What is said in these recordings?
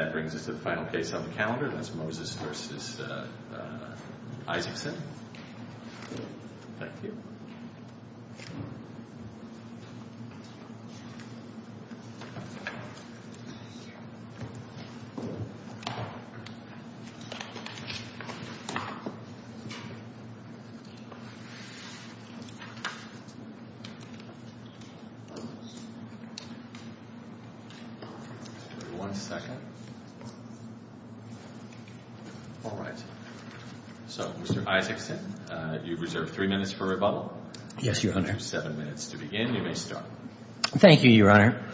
That brings us to the final case on the calendar. That's Moses v. Isaacson. All right. So, Mr. Isaacson, you've reserved three minutes for rebuttal. Yes, Your Honor. You have seven minutes to begin. You may start. Thank you, Your Honor.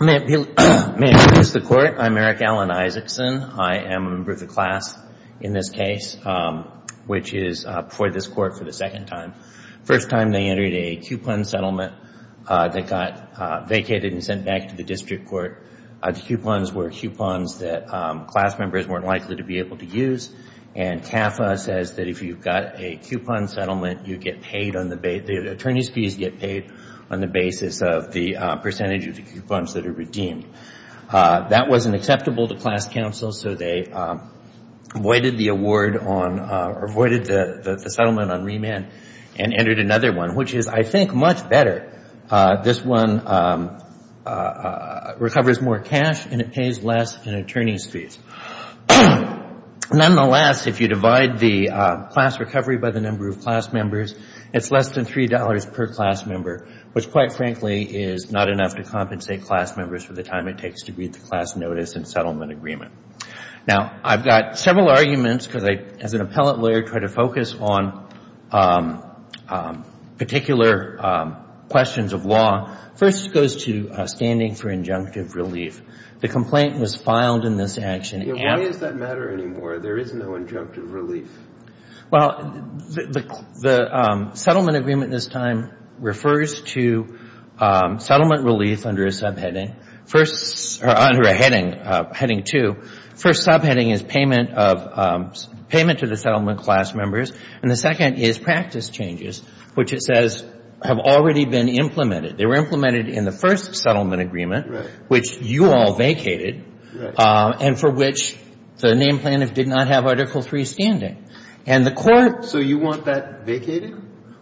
May I introduce the court? I'm Eric Allen Isaacson. I am a member of the class in this case, which is before this court for the second time. The first time they entered a coupon settlement that got vacated and sent back to the district court. The coupons were coupons that class members weren't likely to be able to use. And CAFA says that if you've got a coupon settlement, you get paid on the basis of the percentage of the coupons that are redeemed. That wasn't acceptable to class counsel, so they voided the award on or voided the settlement on remand and entered another one, which is, I think, much better. This one recovers more cash and it pays less in attorney's fees. Nonetheless, if you divide the class recovery by the number of class members, it's less than $3 per class member, which, quite frankly, is not enough to compensate class members for the time it takes to read the class notice and settlement agreement. Now, I've got several arguments because I, as an appellate lawyer, try to focus on particular questions of law. First goes to standing for injunctive relief. The complaint was filed in this action. Why does that matter anymore? There is no injunctive relief. Well, the settlement agreement this time refers to settlement relief under a subheading. First, or under a heading, heading two, first subheading is payment of, payment to the settlement class members. And the second is practice changes, which it says have already been implemented. They were implemented in the first settlement agreement, which you all vacated, and for which the name plaintiff did not have Article III standing. And the court So you want that vacated?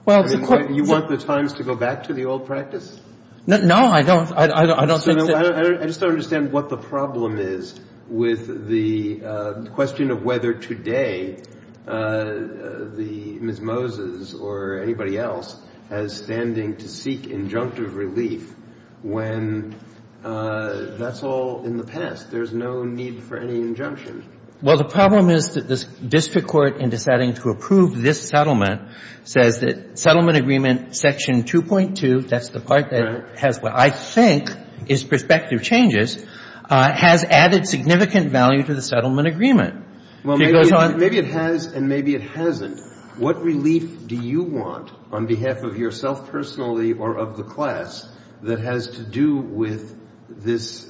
Well, the court You want the times to go back to the old practice? No, I don't. I don't think that I just don't understand what the problem is with the question of whether today the Ms. Moses or anybody else has standing to seek injunctive relief when that's all in the past. There's no need for any injunction. Well, the problem is that the district court, in deciding to approve this settlement, says that settlement agreement section 2.2, that's the part that has what I think is perspective changes, has added significant value to the settlement agreement. Well, maybe it has and maybe it hasn't. What relief do you want on behalf of yourself personally or of the class that has to do with this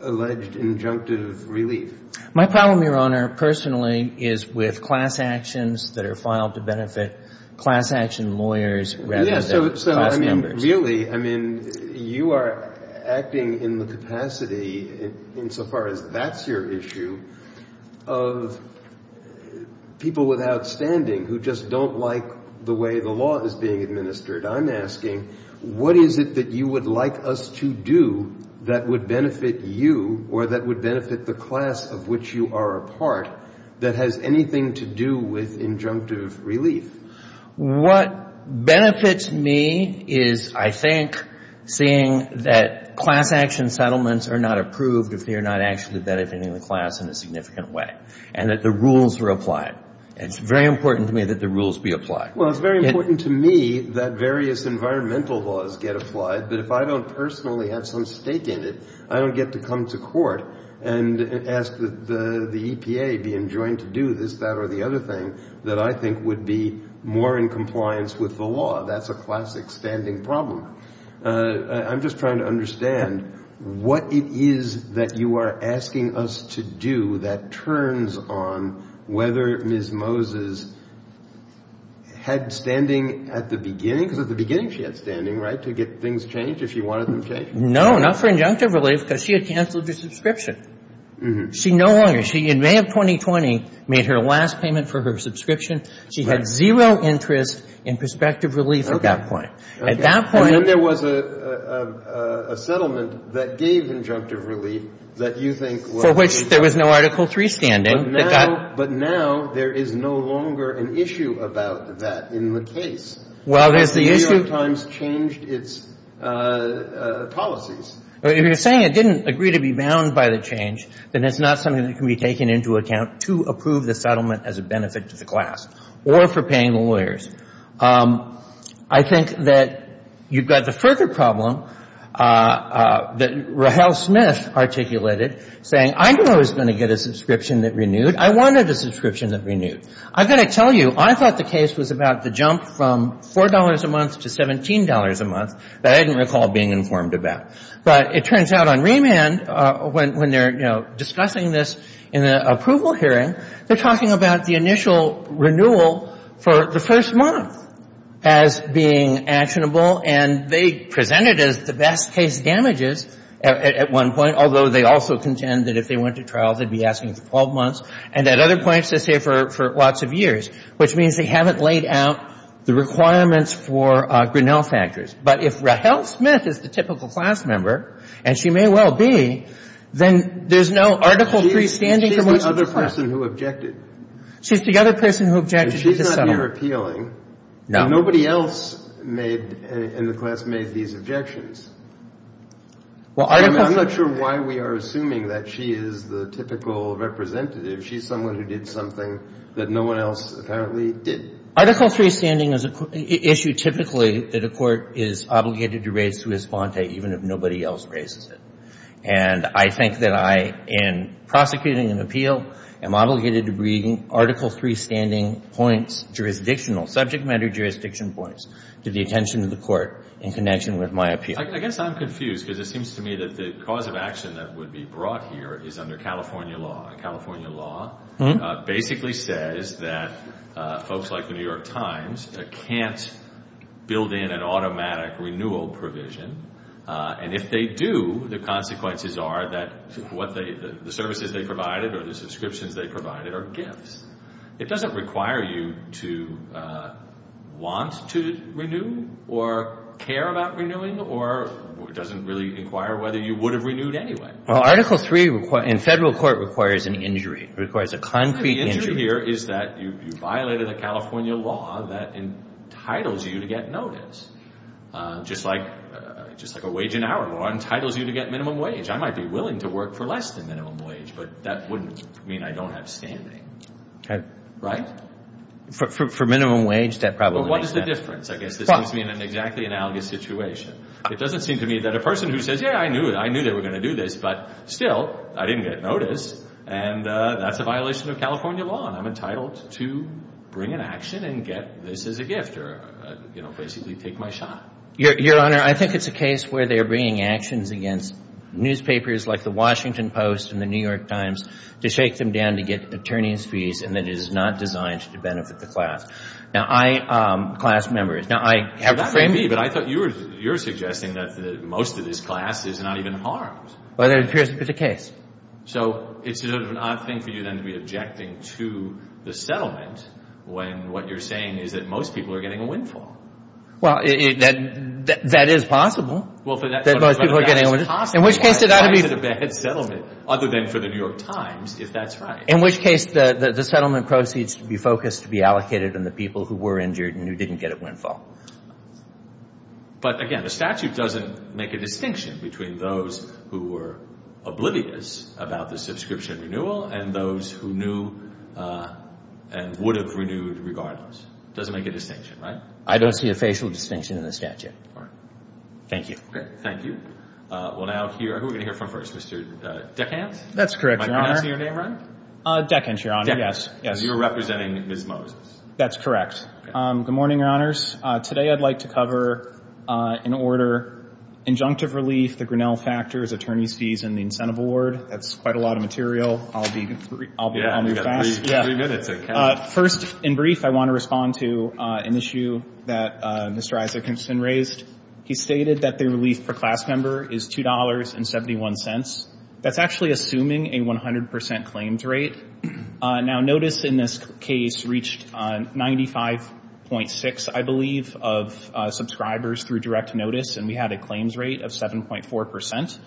alleged injunctive relief? My problem, Your Honor, personally, is with class actions that are filed to benefit class action lawyers rather than class members. Yeah, so I mean, really, I mean, you are acting in the capacity, insofar as that's your issue, of people without standing who just don't like the way the law is being administered. I'm asking, what is it that you would like us to do that would benefit you or that would benefit the class of which you are a part that has anything to do with injunctive relief? What benefits me is, I think, seeing that class action settlements are not approved if they are not actually benefiting the class in a significant way, and that the rules are applied. It's very important to me that the rules be applied. Well, it's very important to me that various environmental laws get applied, but if I don't personally have some stake in it, I don't get to come to court and ask the EPA being joined to do this, that, or the other thing that I think would be more in compliance with the law. That's a class-extending problem. I'm just trying to understand what it is that you are asking us to do that turns on whether Ms. Moses had standing at the beginning, because at the beginning she had standing, right, to get things changed if you wanted them changed? No, not for injunctive relief, because she had canceled her subscription. She no longer. She, in May of 2020, made her last payment for her subscription. She had zero interest in prospective relief at that point. At that point — And then there was a settlement that gave injunctive relief that you think — For which there was no Article III standing. But now there is no longer an issue about that in the case. Well, there's the issue — The New York Times changed its policies. If you're saying it didn't agree to be bound by the change, then it's not something that can be taken into account to approve the settlement as a benefit to the class or for paying the lawyers. I think that you've got the further problem that Rahel Smith articulated, saying, I knew I was going to get a subscription that renewed. I wanted a subscription that renewed. I've got to tell you, I thought the case was about the jump from $4 a month to $17 a month that I didn't recall being informed about. But it turns out on remand, when they're, you know, discussing this in an approval hearing, they're talking about the initial renewal for the first month as being actionable. And they present it as the best case damages at one point, although they also contend that if they went to trial, they'd be asking for 12 months. And at other points, they say for lots of years, which means they haven't laid out the requirements for Grinnell factors. But if Rahel Smith is the typical class member, and she may well be, then there's no Article III standing for most of the class. She's the person who objected. She's the other person who objected. And she's not here appealing. No. Nobody else made, in the class, made these objections. I'm not sure why we are assuming that she is the typical representative. She's someone who did something that no one else apparently did. Article III standing is an issue typically that a court is obligated to raise to respond to, even if nobody else raises it. And I think that I, in prosecuting an appeal, am obligated to bring Article III standing points, jurisdictional, subject matter jurisdiction points to the attention of the court in connection with my appeal. I guess I'm confused because it seems to me that the cause of action that would be brought here is under California law. And California law basically says that folks like the New York Times can't build in an automatic renewal provision. And if they do, the consequences are that the services they provided or the subscriptions they provided are gifts. It doesn't require you to want to renew or care about renewing or doesn't really inquire whether you would have renewed anyway. Article III in federal court requires an injury, requires a concrete injury. The injury here is that you violated a California law that entitles you to get notice. Just like a wage and hour law entitles you to get minimum wage. I might be willing to work for less than minimum wage, but that wouldn't mean I don't have standing. For minimum wage, that probably makes sense. Well, what is the difference? I guess this puts me in an exactly analogous situation. It doesn't seem to me that a person who says, yeah, I knew they were going to do this, but still I didn't get notice and that's a violation of California law and I'm entitled to bring an action and get this as a gift or, you know, basically take my shot. Your Honor, I think it's a case where they're bringing actions against newspapers like the Washington Post and the New York Times to shake them down to get attorney's fees and that it is not designed to benefit the class. Now, I, class members. Now, I have the framing. Sure, that may be, but I thought you were suggesting that most of this class is not even harmed. Well, that appears to be the case. So, it's sort of an odd thing for you then to be objecting to the settlement when what you're saying is that most people are getting a windfall. Well, that is possible that most people are getting a windfall. In which case, it ought to be. That's a bad settlement other than for the New York Times, if that's right. In which case, the settlement proceeds to be focused, to be allocated on the people who were injured and who didn't get a windfall. But, again, the statute doesn't make a distinction between those who were oblivious about the subscription renewal and those who knew and would have renewed regardless. It doesn't make a distinction, right? I don't see a facial distinction in the statute. All right. Thank you. Okay, thank you. Well, now, who are we going to hear from first? Mr. DeCant? That's correct, Your Honor. Am I pronouncing your name right? DeCant, Your Honor. DeCant. You're representing Ms. Moses. That's correct. Good morning, Your Honors. Today, I'd like to cover, in order, injunctive relief, the Grinnell factors, attorney's fees, and the incentive award. That's quite a lot of material. I'll be fast. Yeah, you've got three minutes, DeCant. First, in brief, I want to respond to an issue that Mr. Isaacson raised. He stated that the relief per class member is $2.71. That's actually assuming a 100 percent claims rate. Now, notice in this case reached 95.6, I believe, of subscribers through direct notice, and we had a claims rate of 7.4 percent.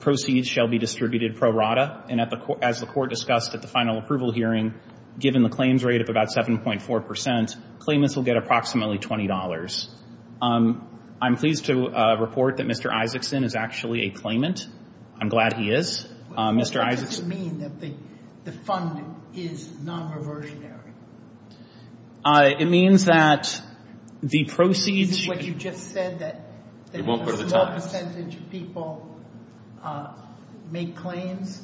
Proceeds shall be distributed pro rata, and as the Court discussed at the final approval hearing, given the claims rate of about 7.4 percent, claimants will get approximately $20. I'm pleased to report that Mr. Isaacson is actually a claimant. I'm glad he is. What does it mean that the fund is non-reversionary? It means that the proceeds Isn't what you just said that a small percentage of people make claims,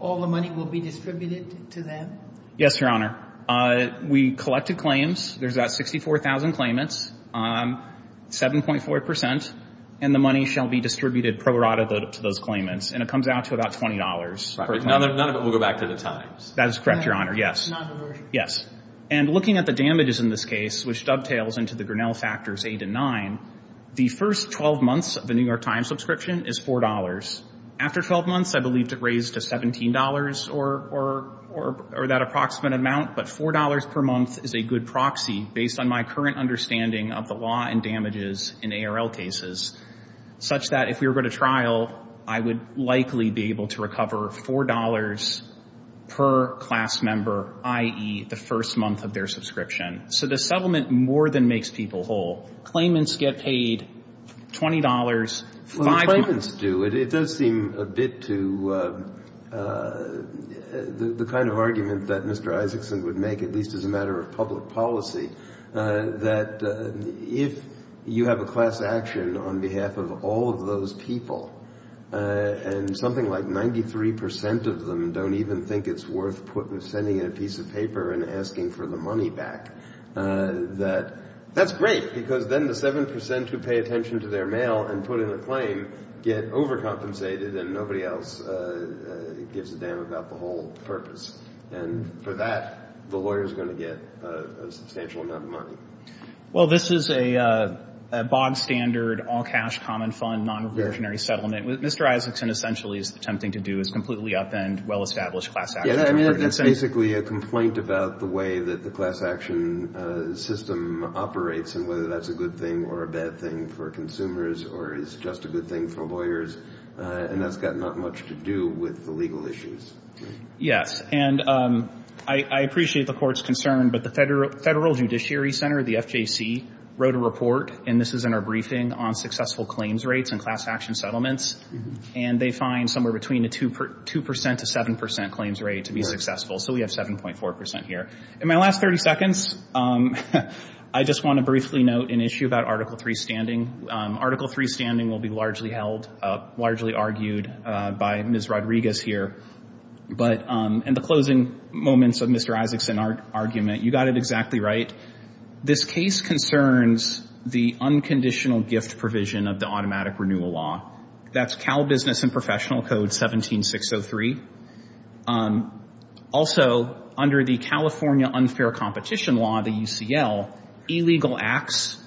all the money will be distributed to them? Yes, Your Honor. We collected claims. There's about 64,000 claimants, 7.4 percent, and the money shall be distributed pro rata to those claimants, and it comes out to about $20. None of it will go back to the Times. That is correct, Your Honor. Yes. And looking at the damages in this case, which dovetails into the Grinnell factors 8 and 9, the first 12 months of the New York Times subscription is $4. After 12 months, I believe it raised to $17 or that approximate amount, but $4 per month is a good proxy based on my current understanding of the law and likely be able to recover $4 per class member, i.e., the first month of their subscription. So the settlement more than makes people whole. Claimants get paid $20. Well, the claimants do. It does seem a bit to the kind of argument that Mr. Isaacson would make, at least as a matter of public policy, that if you have a class action on behalf of all of those people, and something like 93 percent of them don't even think it's worth sending in a piece of paper and asking for the money back, that that's great, because then the 7 percent who pay attention to their mail and put in a claim get overcompensated and nobody else gives a damn about the whole purpose. And for that, the lawyer is going to get a substantial amount of money. Well, this is a bog-standard, all-cash, common fund, non-reversionary settlement. Mr. Isaacson essentially is attempting to do is completely upend well-established class action. Yeah, I mean, that's basically a complaint about the way that the class action system operates and whether that's a good thing or a bad thing for consumers or is just a good thing for lawyers, and that's got not much to do with the legal issues. Yes. And I appreciate the Court's concern, but the Federal Judiciary Center, the FJC, wrote a report, and this is in our briefing, on successful claims rates and class action settlements, and they find somewhere between a 2 percent to 7 percent claims rate to be successful. So we have 7.4 percent here. In my last 30 seconds, I just want to briefly note an issue about Article III standing. Article III standing will be largely held, largely argued by Ms. Rodriguez here. But in the closing moments of Mr. Isaacson's argument, you got it exactly right. This case concerns the unconditional gift provision of the automatic renewal law. That's Cal Business and Professional Code 17603. Also, under the California Unfair Competition Law, the UCL, illegal acts,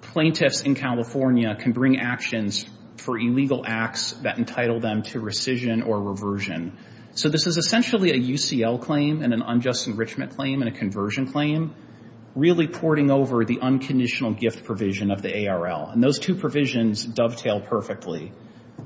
plaintiffs in California can bring actions for illegal acts that entitle them to rescission or reversion. So this is essentially a UCL claim and an unjust enrichment claim and a conversion claim, really porting over the unconditional gift provision of the ARL. And those two provisions dovetail perfectly.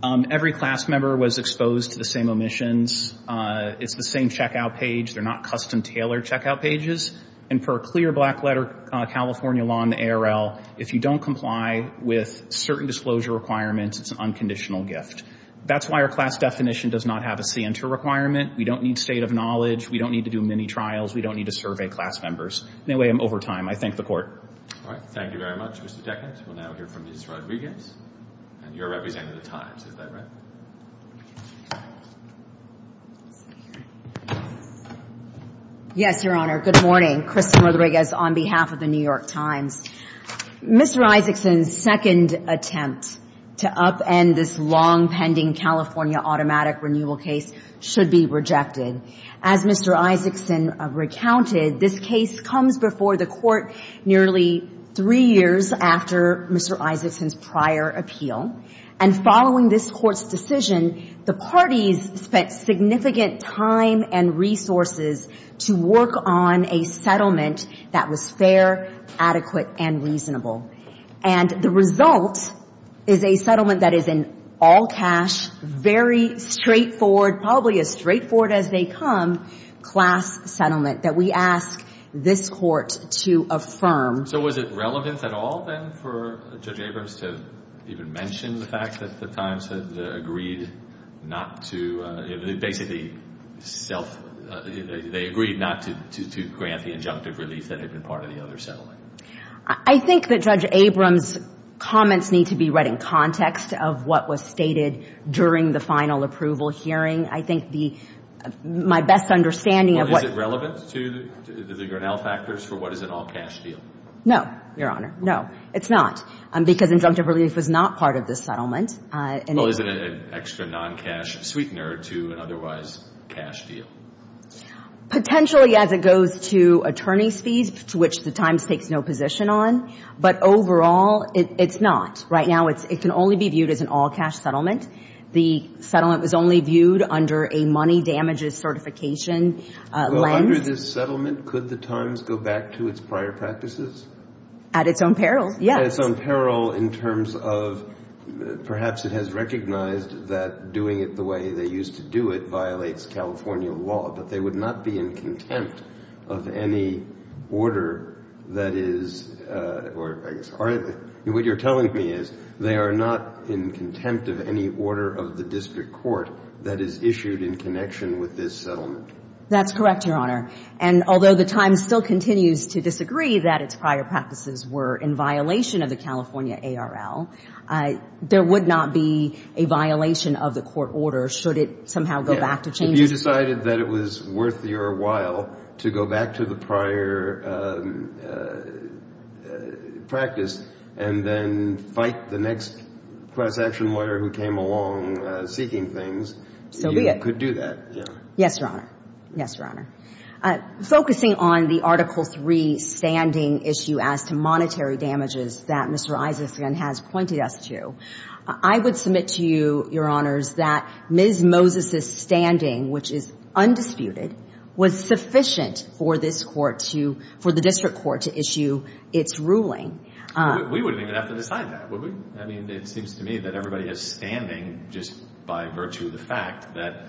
Every class member was exposed to the same omissions. It's the same checkout page. They're not custom-tailored checkout pages. And for a clear black-letter California law in the ARL, if you don't comply with certain disclosure requirements, it's an unconditional gift. That's why our class definition does not have a CNTR requirement. We don't need state of knowledge. We don't need to do mini-trials. We don't need to survey class members. Anyway, I'm over time. I thank the Court. All right. Thank you very much, Mr. Deckert. We'll now hear from Ms. Rodriguez. And you're representing the Times. Is that right? Yes, Your Honor. Good morning. Kristin Rodriguez on behalf of the New York Times. Mr. Isaacson's second attempt to upend this long-pending California automatic renewal case should be rejected. As Mr. Isaacson recounted, this case comes before the Court nearly three years after Mr. Isaacson's prior appeal. And following this Court's decision, the parties spent significant time and resources to work on a settlement that was fair, adequate, and reasonable. And the result is a settlement that is an all-cash, very straightforward, probably as straightforward as they come, class settlement that we ask this Court to affirm. So was it relevant at all then for Judge Abrams to even mention the fact that the Times had agreed not to, basically, they agreed not to grant the injunctive relief that had been part of the other settlement? I think that Judge Abrams' comments need to be read in context of what was stated during the final approval hearing. I think my best understanding of what... Well, is it relevant to the Grinnell factors for what is an all-cash deal? No, Your Honor. No, it's not. Because injunctive relief was not part of this settlement. Well, is it an extra non-cash sweetener to an otherwise cash deal? Potentially, as it goes to attorney's fees, to which the Times takes no position on. But overall, it's not. Right now, it can only be viewed as an all-cash settlement. The settlement was only viewed under a money damages certification lens. Well, under this settlement, could the Times go back to its prior practices? At its own peril, yes. At its own peril in terms of perhaps it has recognized that doing it the way they used to do it violates California law, but they would not be in contempt of any order that is or what you're telling me is they are not in contempt of any order of the district court that is issued in connection with this settlement. That's correct, Your Honor. And although the Times still continues to disagree that its prior practices were in violation of the California ARL, there would not be a violation of the court order should it somehow go back to changes. If you decided that it was worth your while to go back to the prior practice and then fight the next class-action lawyer who came along seeking things, you could do that. Yes, Your Honor. Yes, Your Honor. Focusing on the Article III standing issue as to monetary damages that Mr. Isaacson has pointed us to, I would submit to you, Your Honors, that Ms. Moses' standing, which is undisputed, was sufficient for this court to – for the district court to issue its ruling. We wouldn't even have to decide that, would we? I mean, it seems to me that everybody is standing just by virtue of the fact that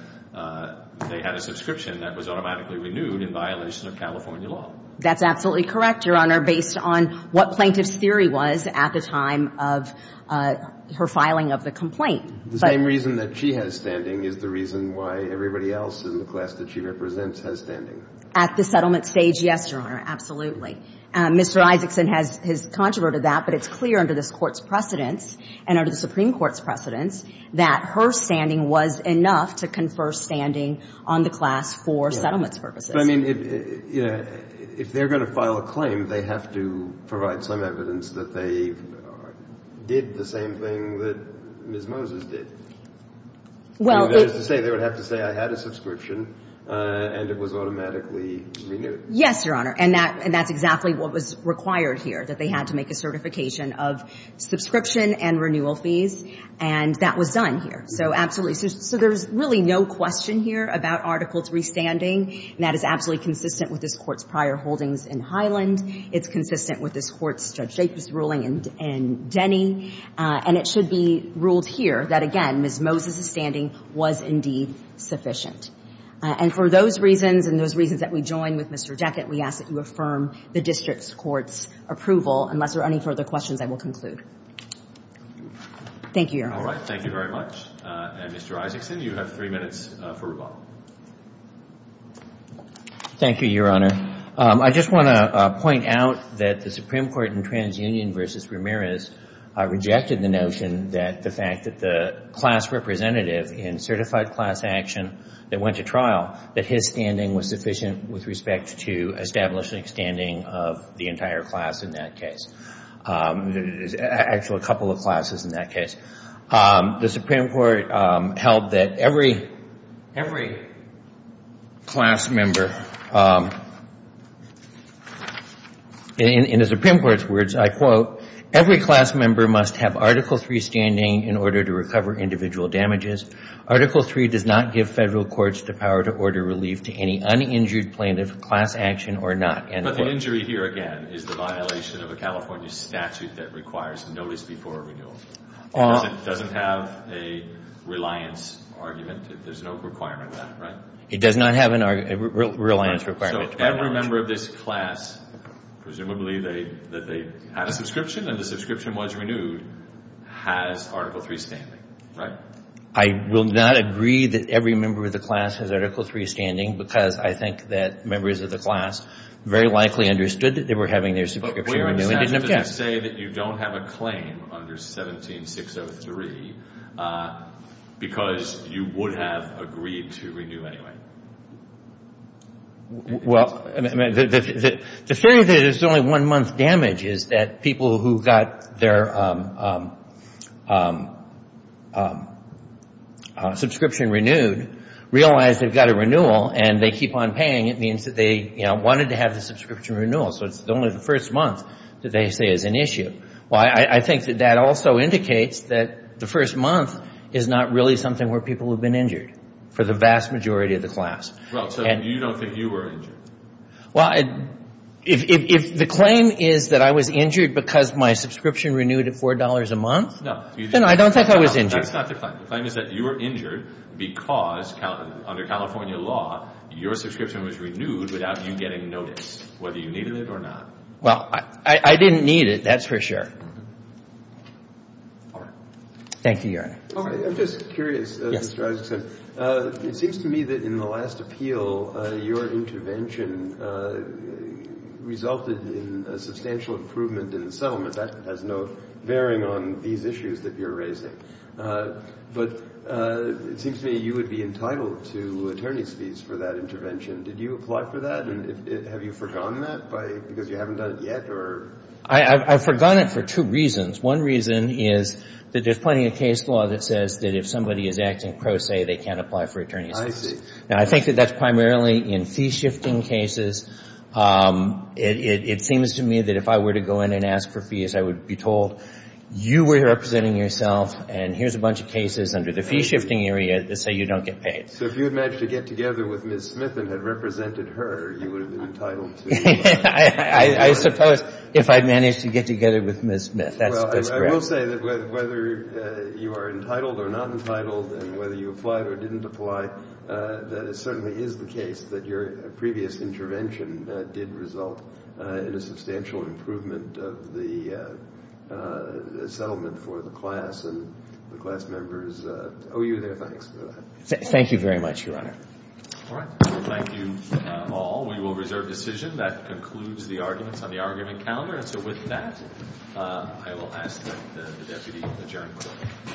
they had a subscription that was automatically renewed in violation of California law. That's absolutely correct, Your Honor, based on what Plaintiff's theory was at the time of her filing of the complaint. The same reason that she has standing is the reason why everybody else in the class that she represents has standing. At the settlement stage, yes, Your Honor. Absolutely. Mr. Isaacson has controverted that, but it's clear under this Court's precedence and under the Supreme Court's precedence that her standing was enough to confer standing on the class for settlements purposes. But, I mean, if they're going to file a claim, they have to provide some evidence that they did the same thing that Ms. Moses did. Well, it – That is to say, they would have to say, I had a subscription and it was automatically renewed. Yes, Your Honor. And that's exactly what was required here, that they had to make a certification of subscription and renewal fees, and that was done here. So absolutely. So there's really no question here about Article III standing, and that is absolutely consistent with this Court's prior holdings in Highland. It's consistent with this Court's Judge Jacobs ruling in Denny. And it should be ruled here that, again, Ms. Moses' standing was indeed sufficient. And for those reasons and those reasons that we join with Mr. Deckett, we ask that District's Court's approval, unless there are any further questions, I will conclude. Thank you, Your Honor. All right. Thank you very much. And, Mr. Isaacson, you have three minutes for rebuttal. Thank you, Your Honor. I just want to point out that the Supreme Court in TransUnion v. Ramirez rejected the notion that the fact that the class representative in certified class action that his standing was sufficient with respect to establishing standing of the entire class in that case. There's actually a couple of classes in that case. The Supreme Court held that every class member, in the Supreme Court's words, I quote, every class member must have Article III standing in order to recover individual damages. Article III does not give federal courts the power to order relief to any uninjured plaintiff, class action or not. But the injury here, again, is the violation of a California statute that requires notice before renewal. It doesn't have a reliance argument. There's no requirement of that, right? It does not have a reliance requirement. So every member of this class, presumably that they had a subscription and the subscription was renewed, has Article III standing, right? I will not agree that every member of the class has Article III standing because I think that members of the class very likely understood that they were having their subscription renewed and didn't object. But we're upset to say that you don't have a claim under 17603 because you would have agreed to renew anyway. Well, I mean, the theory that it's only one month damage is that people who got their subscription renewed realize they've got a renewal and they keep on paying. It means that they, you know, wanted to have the subscription renewal. So it's only the first month that they say is an issue. Well, I think that that also indicates that the first month is not really something where people have been injured for the vast majority of the class. Well, so you don't think you were injured? Well, if the claim is that I was injured because my subscription renewed at $4 a month, then I don't think I was injured. That's not the claim. The claim is that you were injured because, under California law, your subscription was renewed without you getting notice, whether you needed it or not. Well, I didn't need it, that's for sure. All right. Thank you, Your Honor. I'm just curious, Mr. Isaacson. It seems to me that in the last appeal, your intervention resulted in a substantial improvement in the settlement. That has no bearing on these issues that you're raising. But it seems to me you would be entitled to attorney's fees for that intervention. Did you apply for that? And have you forgone that because you haven't done it yet? I've forgone it for two reasons. One reason is that there's plenty of case law that says that if somebody is acting pro se, they can't apply for attorney's fees. I see. Now, I think that that's primarily in fee-shifting cases. It seems to me that if I were to go in and ask for fees, I would be told, you were representing yourself and here's a bunch of cases under the fee-shifting area that say you don't get paid. So if you had managed to get together with Ms. Smith and had represented her, you would have been entitled to attorney's fees. I suppose, if I managed to get together with Ms. Smith. Well, I will say that whether you are entitled or not entitled and whether you applied or didn't apply, that it certainly is the case that your previous intervention did result in a substantial improvement of the settlement for the class and the class members owe you their thanks for that. Thank you very much, Your Honor. All right. Thank you all. We will reserve decision. That concludes the arguments on the argument calendar. And so with that, I will ask that the deputy adjourn.